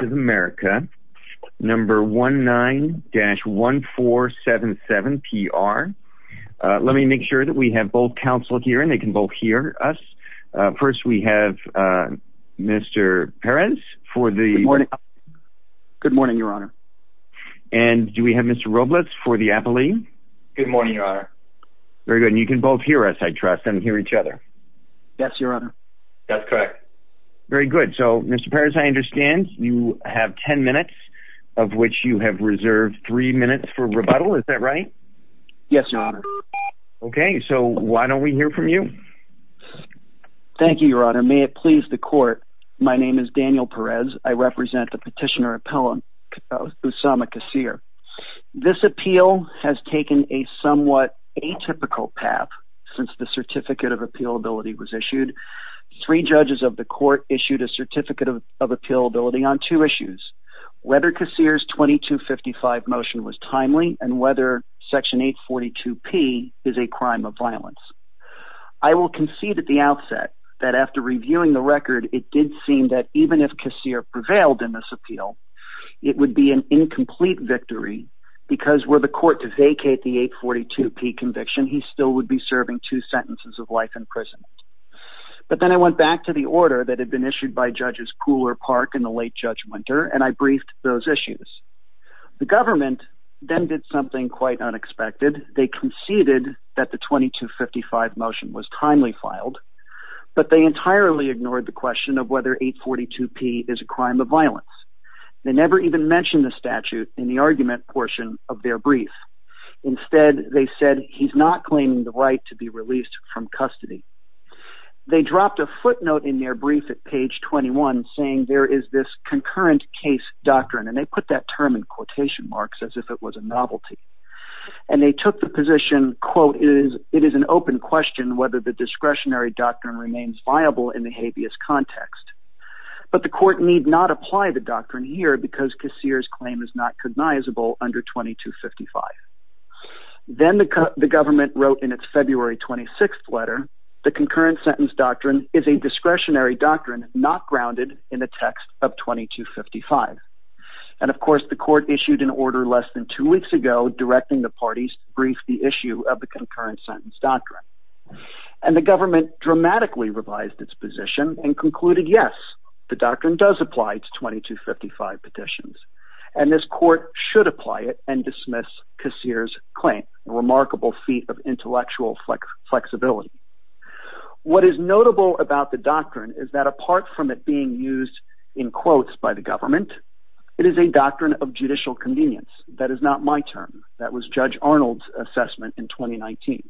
of America, number 19-1477PR. Let me make sure that we have both counsel here and they can both hear us. First, we have Mr. Peres for the... Good morning. Good morning, Your Honor. And do we have Mr. Roblets for the appellee? Good morning, Your Honor. Very good. And you both hear us, I trust, and hear each other? Yes, Your Honor. That's correct. Very good. So, Mr. Peres, I understand you have ten minutes of which you have reserved three minutes for rebuttal. Is that right? Yes, Your Honor. Okay, so why don't we hear from you? Thank you, Your Honor. May it please the court, my name is Daniel Perez. I represent the petitioner Usama Kassir. This appeal has taken a somewhat atypical path since the Certificate of Appealability was issued. Three judges of the court issued a Certificate of Appealability on two issues, whether Kassir's 2255 motion was timely and whether Section 842P is a crime of violence. I will concede at the outset that after reviewing the record, it did seem that even if Kassir prevailed in this appeal, it would be an incomplete victory because were the court to vacate the 842P conviction, he still would be serving two sentences of life in prison. But then I went back to the order that had been issued by Judges Kuhler, Park, and the late Judge Winter, and I briefed those issues. The government then did something quite unexpected. They conceded that the 2255 motion was timely filed, but they entirely ignored the question of whether 842P is a crime of violence. They never even mentioned the statute in the argument portion of their brief. Instead, they said he's not claiming the right to be released from custody. They dropped a footnote in their brief at page 21 saying there is this concurrent case doctrine, and they put that term in quotation marks as if it was a novelty. And they took the position, quote, it is an open question whether the discretionary doctrine remains viable in the habeas context. But the court need not apply the doctrine here because Kassir's claim is not cognizable under 2255. Then the government wrote in its February 26th letter the concurrent sentence doctrine is a discretionary doctrine not grounded in the text of 2255. And of course, the court issued an order less than two weeks ago directing the parties to and concluded, yes, the doctrine does apply to 2255 petitions. And this court should apply it and dismiss Kassir's claim, a remarkable feat of intellectual flexibility. What is notable about the doctrine is that apart from it being used in quotes by the government, it is a doctrine of judicial convenience. That is not my term. That was Judge Arnold's assessment in 2019.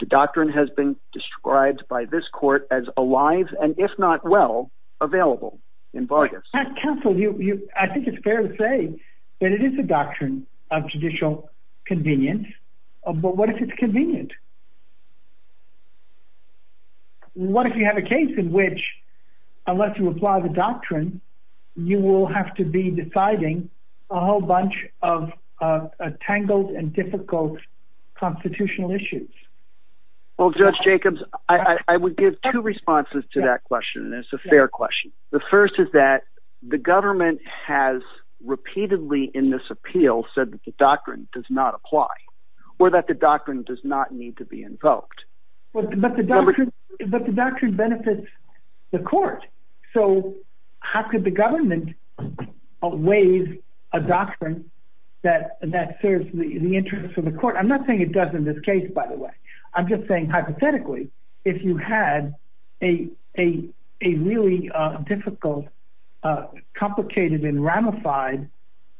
The doctrine has been described by this court as alive and, if not well, available in Vargas. Pat, counsel, I think it's fair to say that it is a doctrine of judicial convenience. But what if it's convenient? What if you have a case in which, unless you apply the doctrine, you will have to be deciding a whole bunch of tangled and difficult constitutional issues? Well, Judge Jacobs, I would give two responses to that question, and it's a fair question. The first is that the government has repeatedly in this appeal said that the doctrine does not apply or that the doctrine does not need to be invoked. But the doctrine benefits the court. So how could the government waive a doctrine that serves the interest of the court? I'm not saying it does in this case, by the way. I'm just saying hypothetically, if you had a really difficult, complicated, and ramified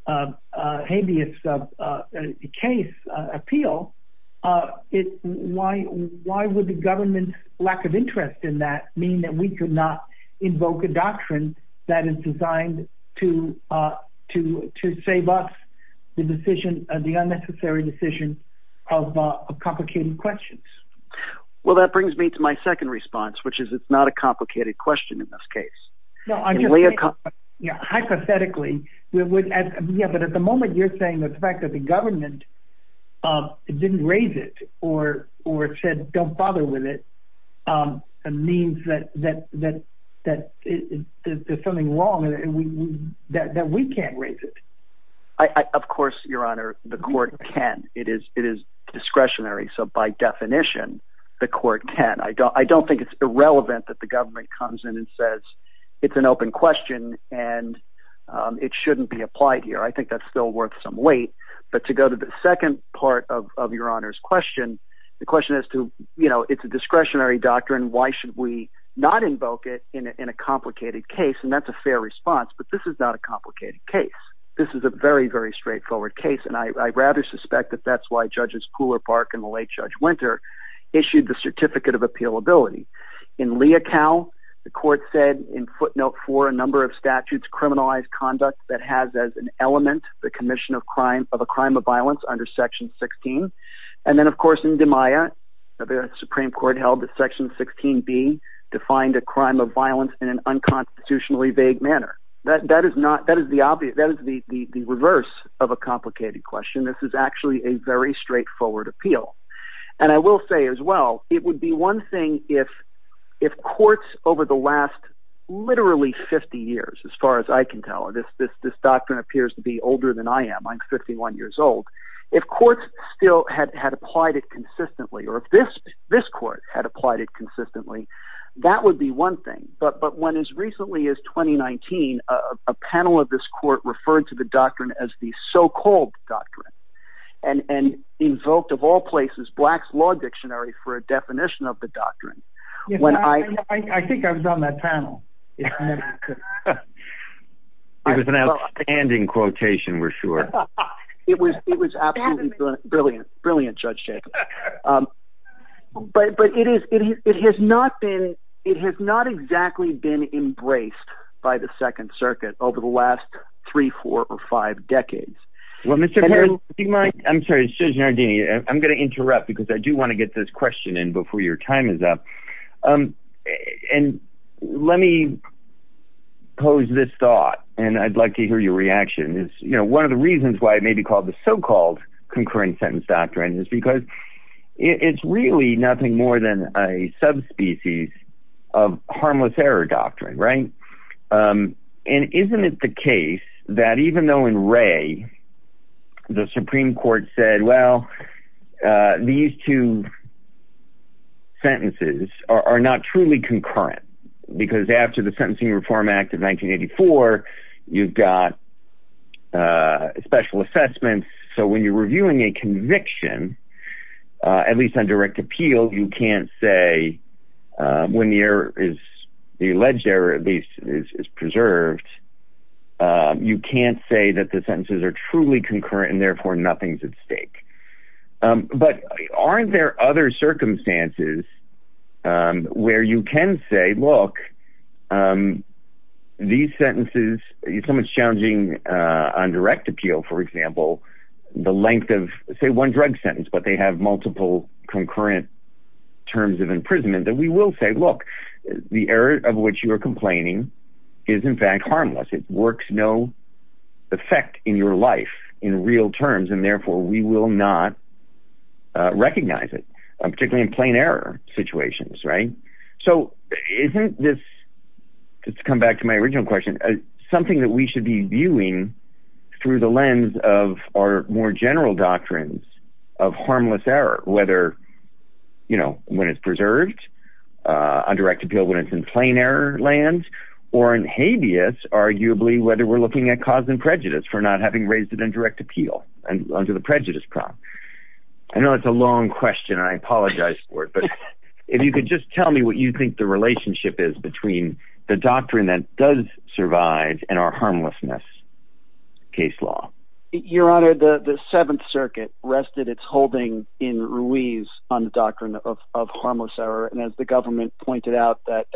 habeas case appeal, why would the government's lack of interest in that mean that we could not invoke a doctrine that is designed to save us the decision, the unnecessary decision of complicated questions? Well, that brings me to my second response, which is it's not a complicated question in this case. I'm just saying hypothetically, but at the moment you're saying that the fact that the government didn't raise it or said don't bother with it means that there's something wrong and that we can't raise it. Of course, Your Honor, the court can. It is discretionary. So by definition, the court can. I don't think it's irrelevant that the government comes in and says it's an open question, and it shouldn't be applied here. I think that's still worth some weight. But to go to the second part of Your Honor's question, the question as to it's a discretionary doctrine. Why should we not invoke it in a complicated case? And that's a fair response, but this is not a complicated case. This is a very, very straightforward case, and I rather suspect that that's why Judges Pooler, Park, and the late Judge Winter issued the Certificate of Appealability. In Leocal, the court said in footnote 4, a number of statutes criminalized conduct that has as an element the commission of a crime of violence under Section 16. And then, of course, in DiMaia, the Supreme Court held that Section 16b defined a crime of violence in an unconstitutionally vague manner. That is the reverse of a complicated question. This is actually a very straightforward appeal. And I will say as well, it would be one thing if courts over the last literally 50 years, as far as I can tell, and this doctrine appears to be older than I am. I'm 51 years old. If courts still had applied it consistently, or if this court had applied it consistently, that would be one thing. But when as recently as 2019, a panel of this court referred to the doctrine as the so-called doctrine, and invoked of all places Black's Law Dictionary for a definition of the doctrine. I think I was on that panel. It was an outstanding quotation, we're sure. It was absolutely brilliant. Brilliant, Judge Jacobs. But it has not exactly been embraced by the Second Circuit over the last three, four, or five decades. Well, Mr. Peres, do you mind? I'm sorry, Judge Nardini, I'm going to interrupt because I do want to get this question in before your time is up. And let me pose this thought, and I'd like to hear your reaction. One of the reasons why it may be called the so-called concurrent sentence doctrine is because it's really nothing more than a subspecies of harmless error doctrine. And isn't it the case that even though in Ray, the Supreme Court said, well, these two sentences are not truly concurrent, because after the Sentencing Reform Act of 1984, you've got special assessments, so when you're reviewing a conviction, at least on direct appeal, you can't say when the alleged error is preserved, you can't say that the sentences are truly concurrent, and therefore nothing's at stake. But aren't there other circumstances where you can say, look, these sentences, so much challenging on direct appeal, for example, the length of, say, one drug sentence, but they have multiple concurrent terms of imprisonment, that we will say, look, the error of which you are complaining is, in fact, harmless. It works no effect in your life in real terms, and therefore we will not recognize it, particularly in plain error situations, right? So isn't this, just to come back to my original question, something that we should be viewing through the lens of our more general doctrines of harmless error, whether when it's preserved on direct appeal, when it's in plain error land, or in habeas, arguably, whether we're looking at cause and prejudice, for not having raised it in direct appeal, under the prejudice prop. I know it's a long question, and I apologize for it, but if you could just tell me what you think the relationship is between the doctrine that does survive and our harmlessness case law. Your Honor, the Seventh Circuit rested its holding in Ruiz on the doctrine of harmless error, and as the government pointed out, that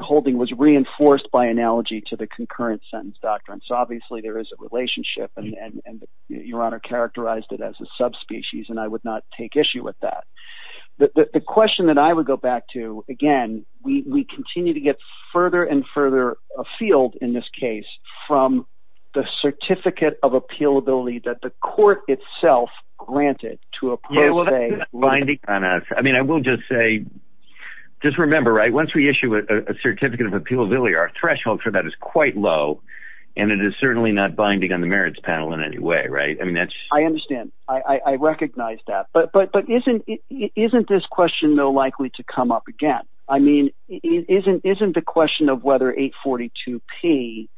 holding was reinforced by analogy to the concurrent sentence doctrine. So obviously there is a relationship, and Your Honor characterized it as a subspecies, and I would not take issue with that. The question that I would go back to, again, we continue to get further and further afield in this case from the certificate of appealability that the court itself granted to a pro se. I mean, I will just say, just remember, right, once we issue a certificate of appealability, our threshold for that is quite low, and it is certainly not binding on the merits panel in any way, right? I understand. I recognize that. But isn't this question, though, likely to come up again? I mean, isn't the question of whether 842P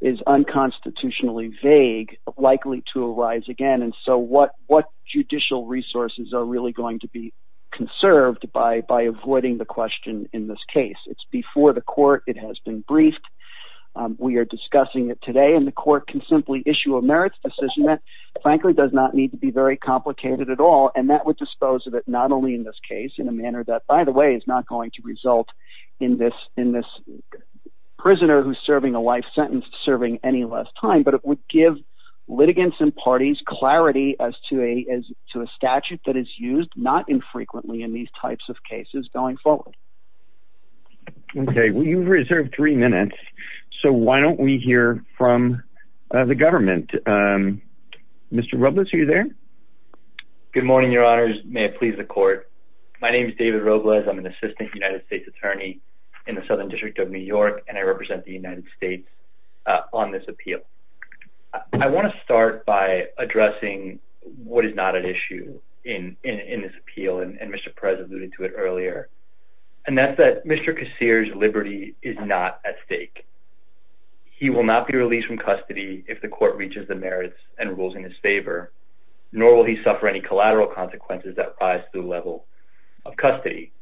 is unconstitutionally vague likely to arise again? And so what judicial resources are really going to be conserved by avoiding the question in this case? It's before the court. It has been briefed. We are discussing it today, and the court can simply issue a merits decision that frankly does not need to be very complicated at all, and that would dispose of it not only in this case in a manner that, by the way, is not going to result in this prisoner who's serving a life sentence serving any less time, but it would give litigants and parties clarity as to a statute that is used not infrequently in these types of cases going forward. Okay. Well, you've reserved three minutes, so why don't we hear from the government? Mr. Robles, are you there? Good morning, Your Honors. May it please the court. My name is David Robles. I'm an assistant United States attorney in the Southern District of New York, and I represent the United States on this appeal. I want to start by addressing what is not at issue in this appeal, and Mr. Perez alluded to it earlier, and that's that Mr. Kassir's liberty is not at stake. He will not be released from custody if the court reaches the merits and rules in his favor, nor will he suffer any collateral consequences that rise to the level of custody.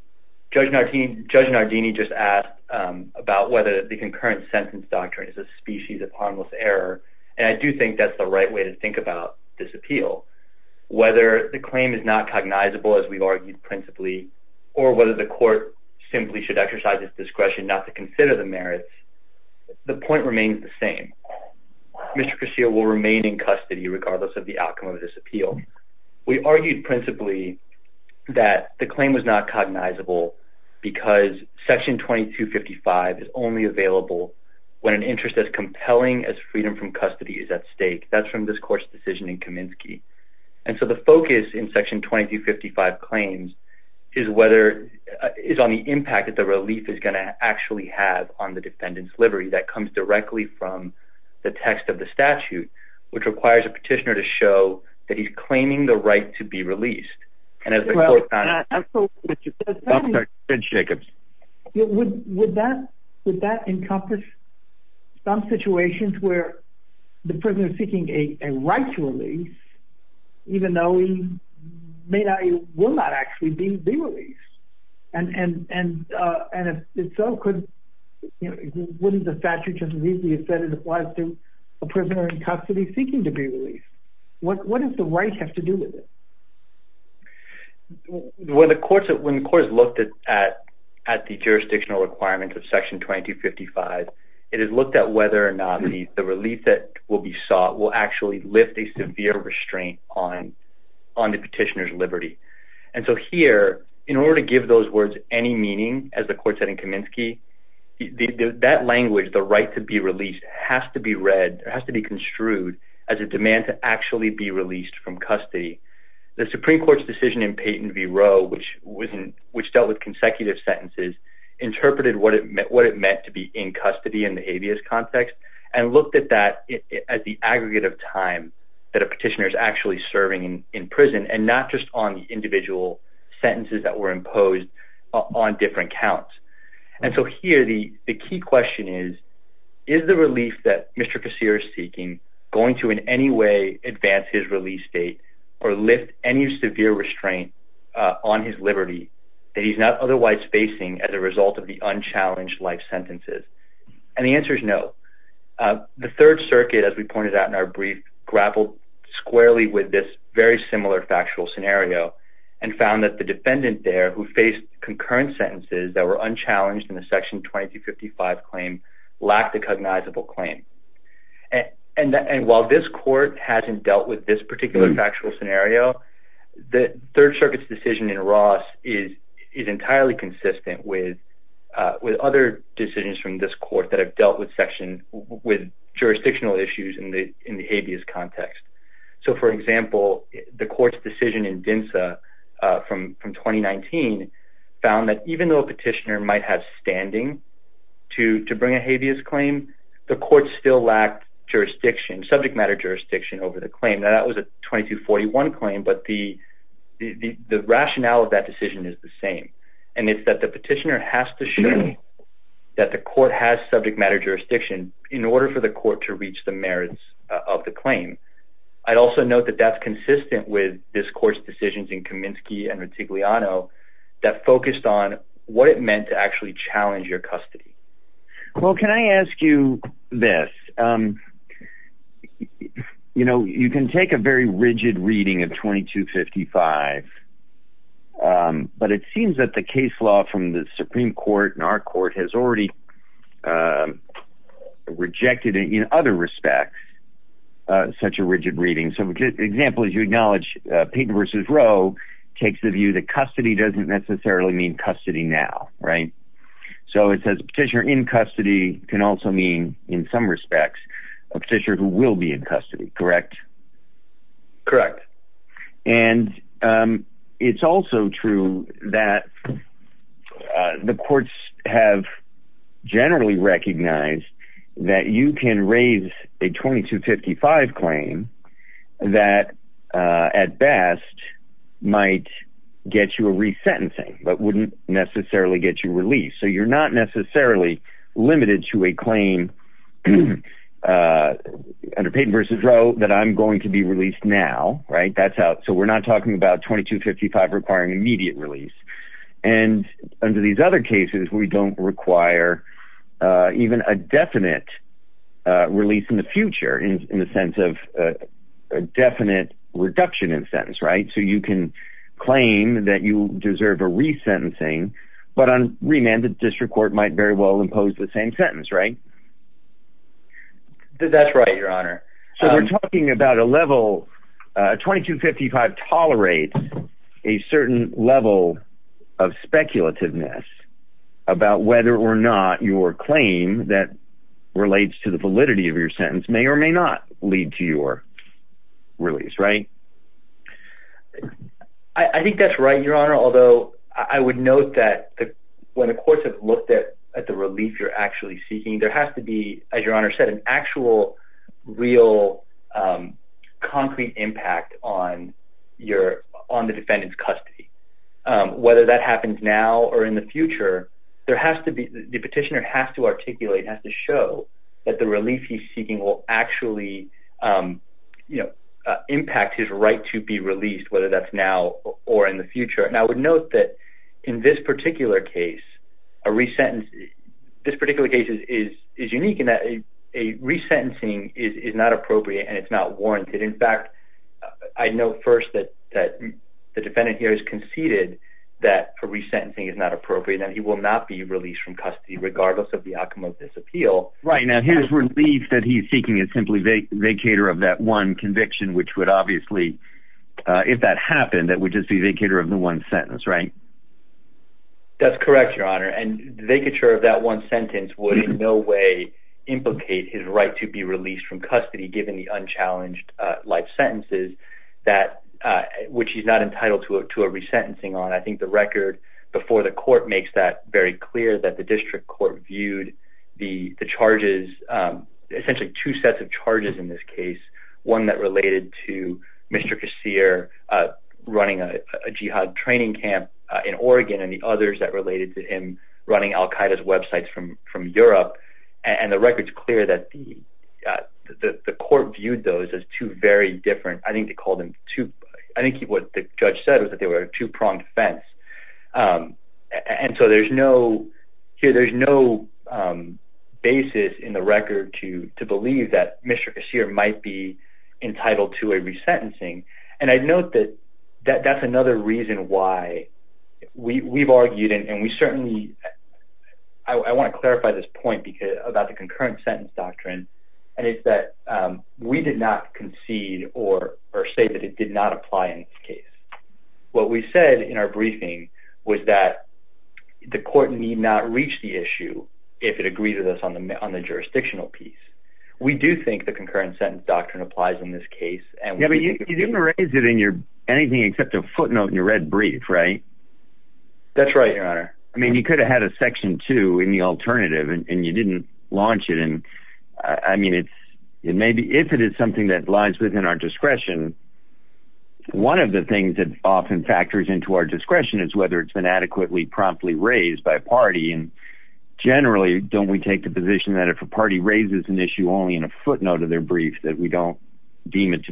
Judge Nardini just asked about whether the concurrent sentence doctrine is a species of harmless error, and I do think that's the right way to think about this appeal. Whether the claim is not cognizable, as we argued principally, or whether the court simply should exercise its discretion not to consider the merits, the point remains the same. Mr. Kassir will remain in custody regardless of the outcome of this appeal. We argued principally that the claim was not cognizable because Section 2255 is only available when an interest as compelling as freedom from custody is at stake. That's from this court's decision in Kaminsky. And so the focus in Section 2255 claims is on the impact that the relief is going to actually have on the defendant's liberty that comes directly from the text of the statute, which requires a petitioner to show that he's claiming the right to be released. Would that encompass some situations where the prisoner is seeking a right to release, even though he may not or will not actually be released? And if so, wouldn't the statute just read that it applies to a prisoner in custody seeking to be released? What does the right have to do with it? When the court has looked at the jurisdictional requirements of Section 2255, it has looked at whether or not the relief that will be sought will actually lift a severe restraint on the petitioner's liberty. And so here, in order to give those words any meaning, as the court said in Kaminsky, that language, the right to be released, has to be read, has to be construed, as a demand to actually be released from custody. The Supreme Court's decision in Peyton v. Roe, which dealt with consecutive sentences, interpreted what it meant to be in custody in the habeas context and looked at that as the aggregate of time that a petitioner is actually serving in prison and not just on the individual sentences that were imposed on different counts. And so here, the key question is, is the relief that Mr. Kossiris is seeking going to in any way advance his release date or lift any severe restraint on his liberty that he's not otherwise facing as a result of the unchallenged life sentences? And the answer is no. The Third Circuit, as we pointed out in our brief, grappled squarely with this very similar factual scenario and found that the defendant there, who faced concurrent sentences that were unchallenged in the Section 2255 claim, lacked a cognizable claim. And while this court hasn't dealt with this particular factual scenario, the Third Circuit's decision in Ross is entirely consistent with other decisions from this court that have dealt with jurisdictional issues in the habeas context. So, for example, the court's decision in Densa from 2019 found that even though a petitioner might have standing to bring a habeas claim, the court still lacked jurisdiction, subject matter jurisdiction, over the claim. Now, that was a 2241 claim, but the rationale of that decision is the same. And it's that the petitioner has to show that the court has subject matter jurisdiction in order for the court to reach the merits of the claim. I'd also note that that's consistent with this court's decisions in Kaminsky and Retigliano that focused on what it meant to actually challenge your custody. Well, can I ask you this? You know, you can take a very rigid reading of 2255, but it seems that the case law from the Supreme Court and our court has already rejected it in other respects, such a rigid reading. So, for example, as you acknowledge, Payton v. Roe takes the view that custody doesn't necessarily mean custody now, right? So it says a petitioner in custody can also mean, in some respects, a petitioner who will be in custody, correct? Correct. And it's also true that the courts have generally recognized that you can raise a 2255 claim that, at best, might get you a resentencing but wouldn't necessarily get you released. So you're not necessarily limited to a claim under Payton v. Roe that I'm going to be released now, right? So we're not talking about 2255 requiring immediate release. And under these other cases, we don't require even a definite release in the future in the sense of a definite reduction in sentence, right? So you can claim that you deserve a resentencing, but on remand, the district court might very well impose the same sentence, right? That's right, Your Honor. So we're talking about a level. 2255 tolerates a certain level of speculativeness about whether or not your claim that relates to the validity of your sentence may or may not lead to your release, right? I think that's right, Your Honor, although I would note that when the courts have looked at the relief you're actually seeking, there has to be, as Your Honor said, an actual, real, concrete impact on the defendant's custody. Whether that happens now or in the future, the petitioner has to articulate, has to show that the relief he's seeking will actually impact his right to be released, whether that's now or in the future. And I would note that in this particular case, this particular case is unique in that a resentencing is not appropriate and it's not warranted. In fact, I note first that the defendant here has conceded that a resentencing is not appropriate and that he will not be released from custody regardless of the outcome of this appeal. Right, now his relief that he's seeking is simply vacator of that one conviction, which would obviously, if that happened, that would just be vacator of the one sentence, right? That's correct, Your Honor, and vacator of that one sentence would in no way implicate his right to be released from custody given the unchallenged life sentences, which he's not entitled to a resentencing on. I think the record before the court makes that very clear, that the district court viewed the charges, essentially two sets of charges in this case, one that related to Mr. Kassir running a jihad training camp in Oregon and the others that related to him running al-Qaeda's websites from Europe. And the record's clear that the court viewed those as two very different, I think they called them two, I think what the judge said was that they were a two-pronged offense. And so there's no, here there's no basis in the record to believe that Mr. Kassir might be entitled to a resentencing. And I'd note that that's another reason why we've argued, and we certainly, I want to clarify this point about the concurrent sentence doctrine, and it's that we did not concede or say that it did not apply in this case. What we said in our briefing was that the court need not reach the issue if it agrees with us on the jurisdictional piece. We do think the concurrent sentence doctrine applies in this case. Yeah, but you didn't raise it in anything except a footnote in your red brief, right? That's right, Your Honor. I mean, you could have had a section two in the alternative, and you didn't launch it. And I mean, if it is something that lies within our discretion, one of the things that often factors into our discretion is whether it's been adequately promptly raised by a party. And generally, don't we take the position that if a party raises an issue only in a footnote of their brief, that we don't deem it to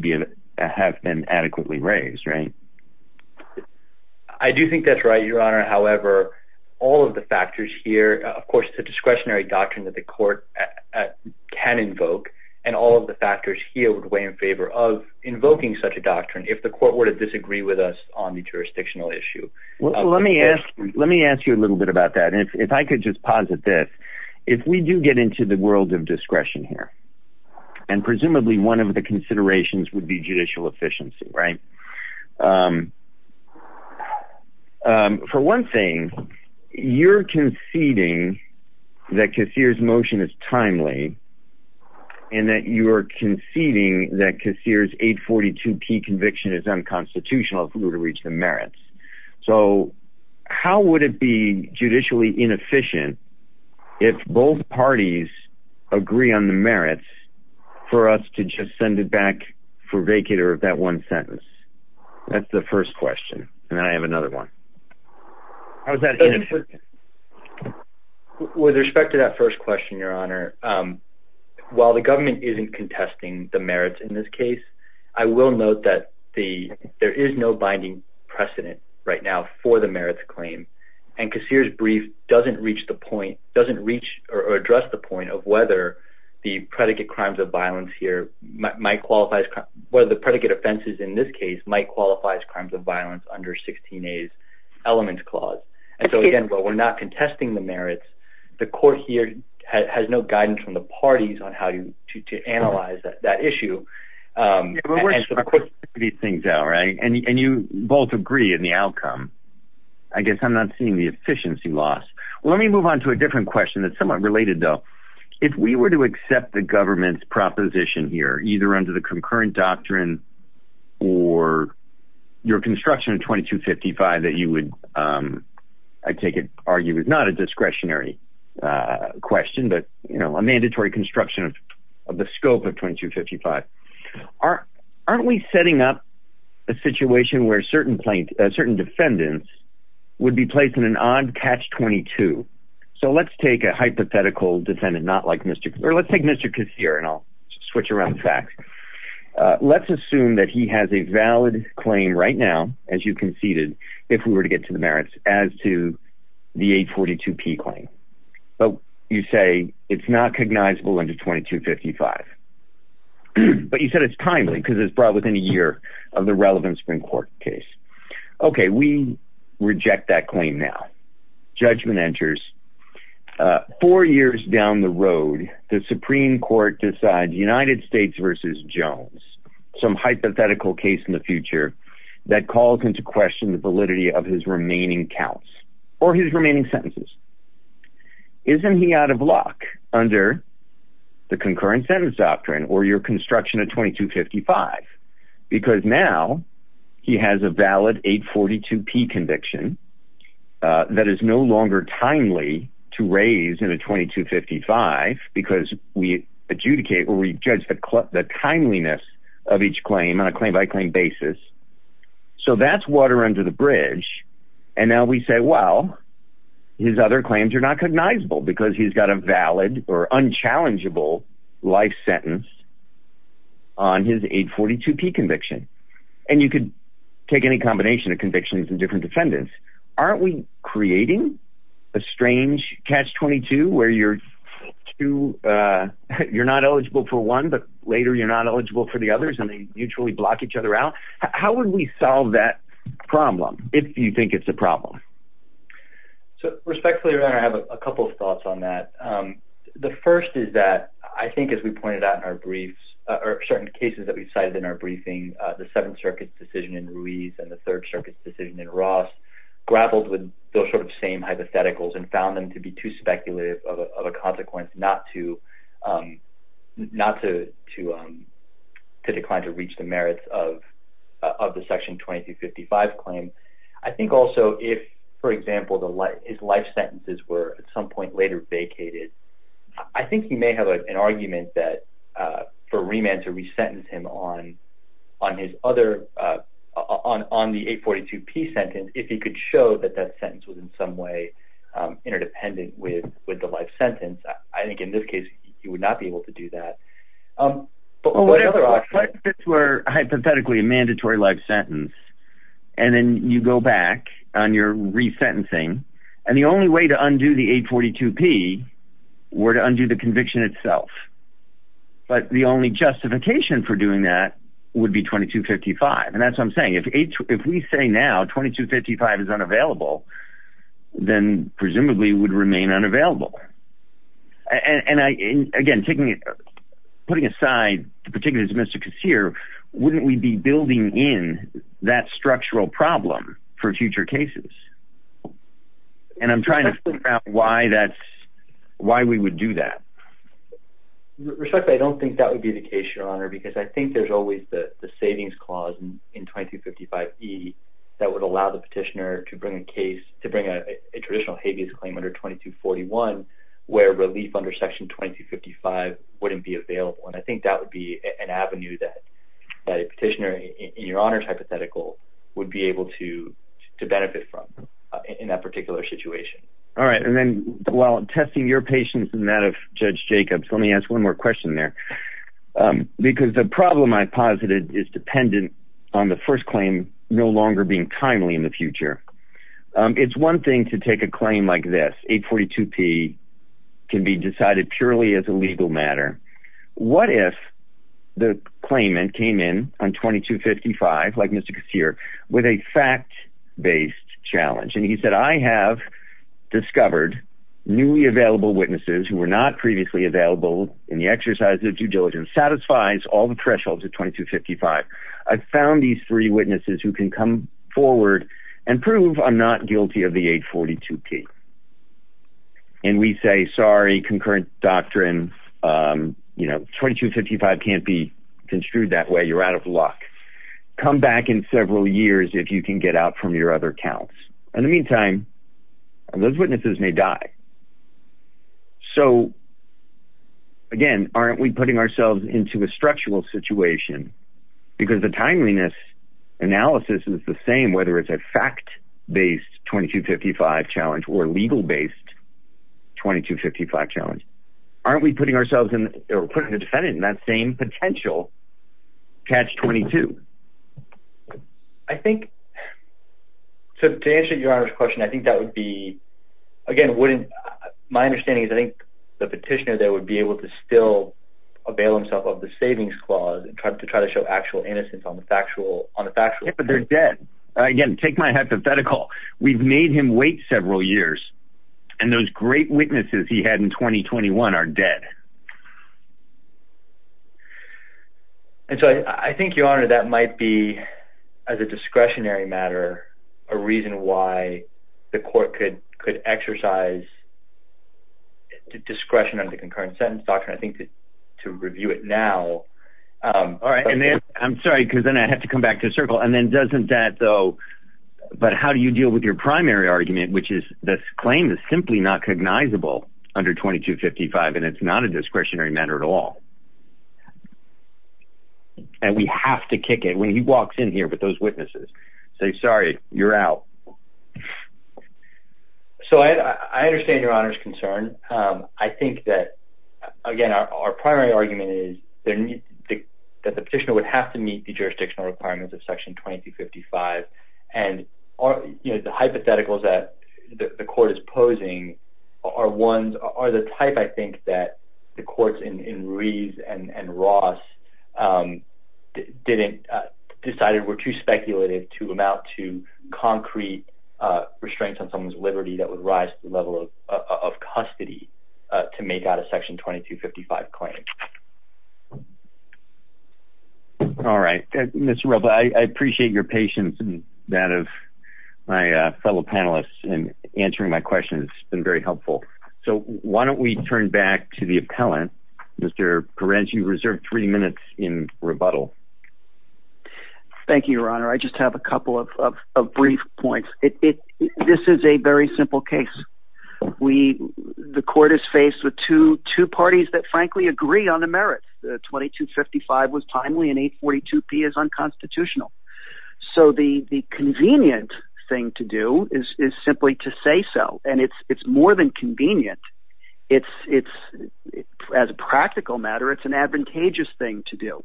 have been adequately raised, right? I do think that's right, Your Honor. However, all of the factors here, of course, it's a discretionary doctrine that the court can invoke, and all of the factors here would weigh in favor of invoking such a doctrine if the court were to disagree with us on the jurisdictional issue. Well, let me ask you a little bit about that. And if I could just posit this, if we do get into the world of discretion here, and presumably one of the considerations would be judicial efficiency, right? For one thing, you're conceding that Cassir's motion is timely, and that you're conceding that Cassir's 842P conviction is unconstitutional if we were to reach the merits. So how would it be judicially inefficient if both parties agree on the merits for us to just send it back for vacater of that one sentence? That's the first question, and then I have another one. How is that inefficient? With respect to that first question, Your Honor, while the government isn't contesting the merits in this case, I will note that there is no binding precedent right now for the merits claim, and Cassir's brief doesn't reach or address the point of whether the predicate offenses in this case might qualify as crimes of violence under 16A's elements clause. And so again, while we're not contesting the merits, the court here has no guidance from the parties on how to analyze that issue. And you both agree in the outcome. I guess I'm not seeing the efficiency loss. Let me move on to a different question that's somewhat related, though. If we were to accept the government's proposition here, either under the concurrent doctrine or your construction of 2255 that you would, I take it, argue is not a discretionary question, but a mandatory construction of the scope of 2255. Aren't we setting up a situation where certain defendants would be placed in an odd catch-22? So let's take a hypothetical defendant, not like Mr. Cassir. Let's take Mr. Cassir, and I'll switch around the facts. Let's assume that he has a valid claim right now, as you conceded, if we were to get to the merits, as to the 842P claim. But you say it's not cognizable under 2255. But you said it's timely because it's brought within a year of the relevant Supreme Court case. Okay, we reject that claim now. Judgment enters. Four years down the road, the Supreme Court decides United States v. Jones, some hypothetical case in the future that calls into question the validity of his remaining counts or his remaining sentences. Isn't he out of luck under the concurrent sentence doctrine or your construction of 2255? Because now he has a valid 842P conviction that is no longer timely to raise in a 2255 because we adjudicate or we judge the timeliness of each claim on a claim-by-claim basis. So that's water under the bridge. And now we say, well, his other claims are not cognizable because he's got a valid or unchallengeable life sentence on his 842P conviction. And you could take any combination of convictions and different defendants. Aren't we creating a strange catch-22 where you're not eligible for one, but later you're not eligible for the others and they mutually block each other out? How would we solve that problem if you think it's a problem? So respectfully, your Honor, I have a couple of thoughts on that. The first is that I think as we pointed out in our briefs or certain cases that we cited in our briefing, the Seventh Circuit's decision in Ruiz and the Third Circuit's decision in Ross grappled with those sort of same hypotheticals and found them to be too speculative of a consequence not to decline to reach the merits of the Section 2255 claim. I think also if, for example, his life sentences were at some point later vacated, I think you may have an argument for remand to resentence him on the 842P sentence if he could show that that sentence was in some way interdependent with the life sentence. I think in this case he would not be able to do that. But what other options? If this were hypothetically a mandatory life sentence and then you go back on your resentencing and the only way to undo the 842P were to undo the conviction itself, but the only justification for doing that would be 2255. And that's what I'm saying. If we say now 2255 is unavailable, then presumably it would remain unavailable. And again, putting aside the particulars of Mr. Kassir, wouldn't we be building in that structural problem for future cases? And I'm trying to figure out why we would do that. Respectfully, I don't think that would be the case, Your Honor, because I think there's always the savings clause in 2255E that would allow the petitioner to bring a case, to bring a traditional habeas claim under 2241 where relief under section 2255 wouldn't be available. And I think that would be an avenue that a petitioner, in Your Honor's hypothetical, would be able to benefit from in that particular situation. All right. And then while testing your patience and that of Judge Jacobs, let me ask one more question there. Because the problem I posited is dependent on the first claim, no longer being timely in the future. It's one thing to take a claim like this, 842P can be decided purely as a legal matter. What if the claimant came in on 2255, like Mr. Kassir, with a fact-based challenge? And he said, I have discovered newly available witnesses who were not previously available in the exercise of due diligence, satisfies all the thresholds of 2255. I've found these three witnesses who can come forward and prove I'm not guilty of the 842P. And we say, sorry, concurrent doctrine, you know, 2255 can't be construed that way. You're out of luck. Come back in several years if you can get out from your other counts. In the meantime, those witnesses may die. So, again, aren't we putting ourselves into a structural situation because the timeliness analysis is the same, whether it's a fact-based 2255 challenge or legal-based 2255 challenge. Aren't we putting ourselves in, or putting the defendant in that same potential catch-22? I think, to answer Your Honor's question, I think that would be, again, wouldn't, my understanding is I think the petitioner there would be able to still avail himself of the savings clause to try to show actual innocence on the factual. Yeah, but they're dead. Again, take my hypothetical. We've made him wait several years, and those great witnesses he had in 2021 are dead. And so I think, Your Honor, that might be, as a discretionary matter, a reason why the court could exercise discretion on the concurrent sentence doctrine, I think, to review it now. All right, and then, I'm sorry, because then I have to come back to the circle, and then doesn't that, though, but how do you deal with your primary argument, which is this claim is simply not cognizable under 2255, and it's not a discretionary matter at all? And we have to kick it when he walks in here with those witnesses, say, sorry, you're out. So I understand Your Honor's concern. I think that, again, our primary argument is that the petitioner would have to meet the jurisdictional requirements of Section 2255, and the hypotheticals that the court is posing are the type, I think, that the courts in Reeves and Ross decided were too speculative to amount to concrete restraints on someone's liberty that would rise to the level of custody to make out a Section 2255 claim. All right. Mr. Roba, I appreciate your patience and that of my fellow panelists in answering my questions. It's been very helpful. So why don't we turn back to the appellant. Mr. Perren, you've reserved three minutes in rebuttal. Thank you, Your Honor. I just have a couple of brief points. This is a very simple case. The court is faced with two parties that, frankly, agree on the merits. 2255 was timely and 842P is unconstitutional. So the convenient thing to do is simply to say so, and it's more than convenient. As a practical matter, it's an advantageous thing to do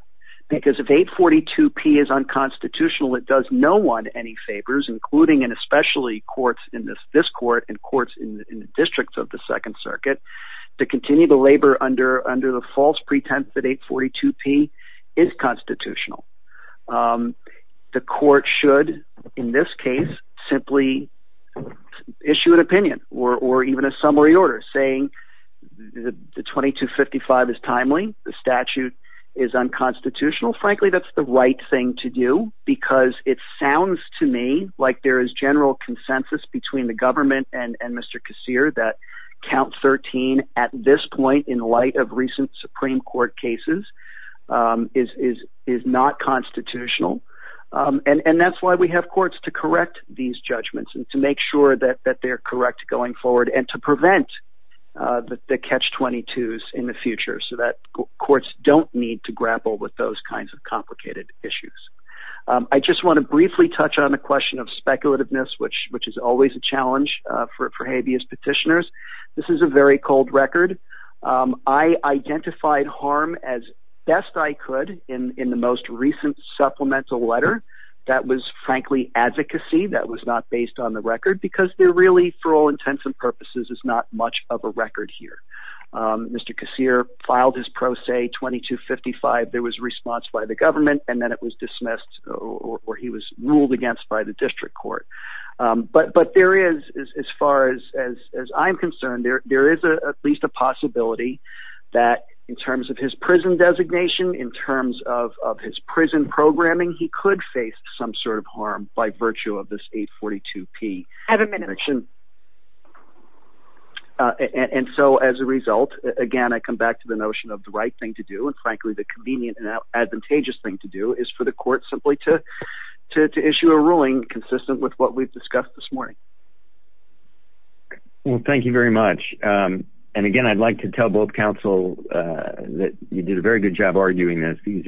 because if 842P is unconstitutional, it does no one any favors, including and especially courts in this court and courts in the districts of the Second Circuit, to continue to labor under the false pretense that 842P is constitutional. The court should, in this case, simply issue an opinion or even a summary order saying the 2255 is timely, the statute is unconstitutional. Frankly, that's the right thing to do because it sounds to me like there is general consensus between the government and Mr. Kassir that count 13 at this point, in light of recent Supreme Court cases, is not constitutional. And that's why we have courts to correct these judgments and to make sure that they're correct going forward and to prevent the catch-22s in the future so that courts don't need to grapple with those kinds of complicated issues. I just want to briefly touch on the question of speculativeness, which is always a challenge for habeas petitioners. This is a very cold record. I identified harm as best I could in the most recent supplemental letter. That was, frankly, advocacy that was not based on the record because there really, for all intents and purposes, is not much of a record here. Mr. Kassir filed his pro se 2255. There was response by the government, and then it was dismissed or he was ruled against by the district court. But there is, as far as I'm concerned, there is at least a possibility that in terms of his prison designation, in terms of his prison programming, he could face some sort of harm by virtue of this 842P. I have a minute. As a result, again, I come back to the notion of the right thing to do, and frankly the convenient and advantageous thing to do is for the court simply to issue a ruling consistent with what we've discussed this morning. Thank you very much. Again, I'd like to tell both counsel that you did a very good job arguing this.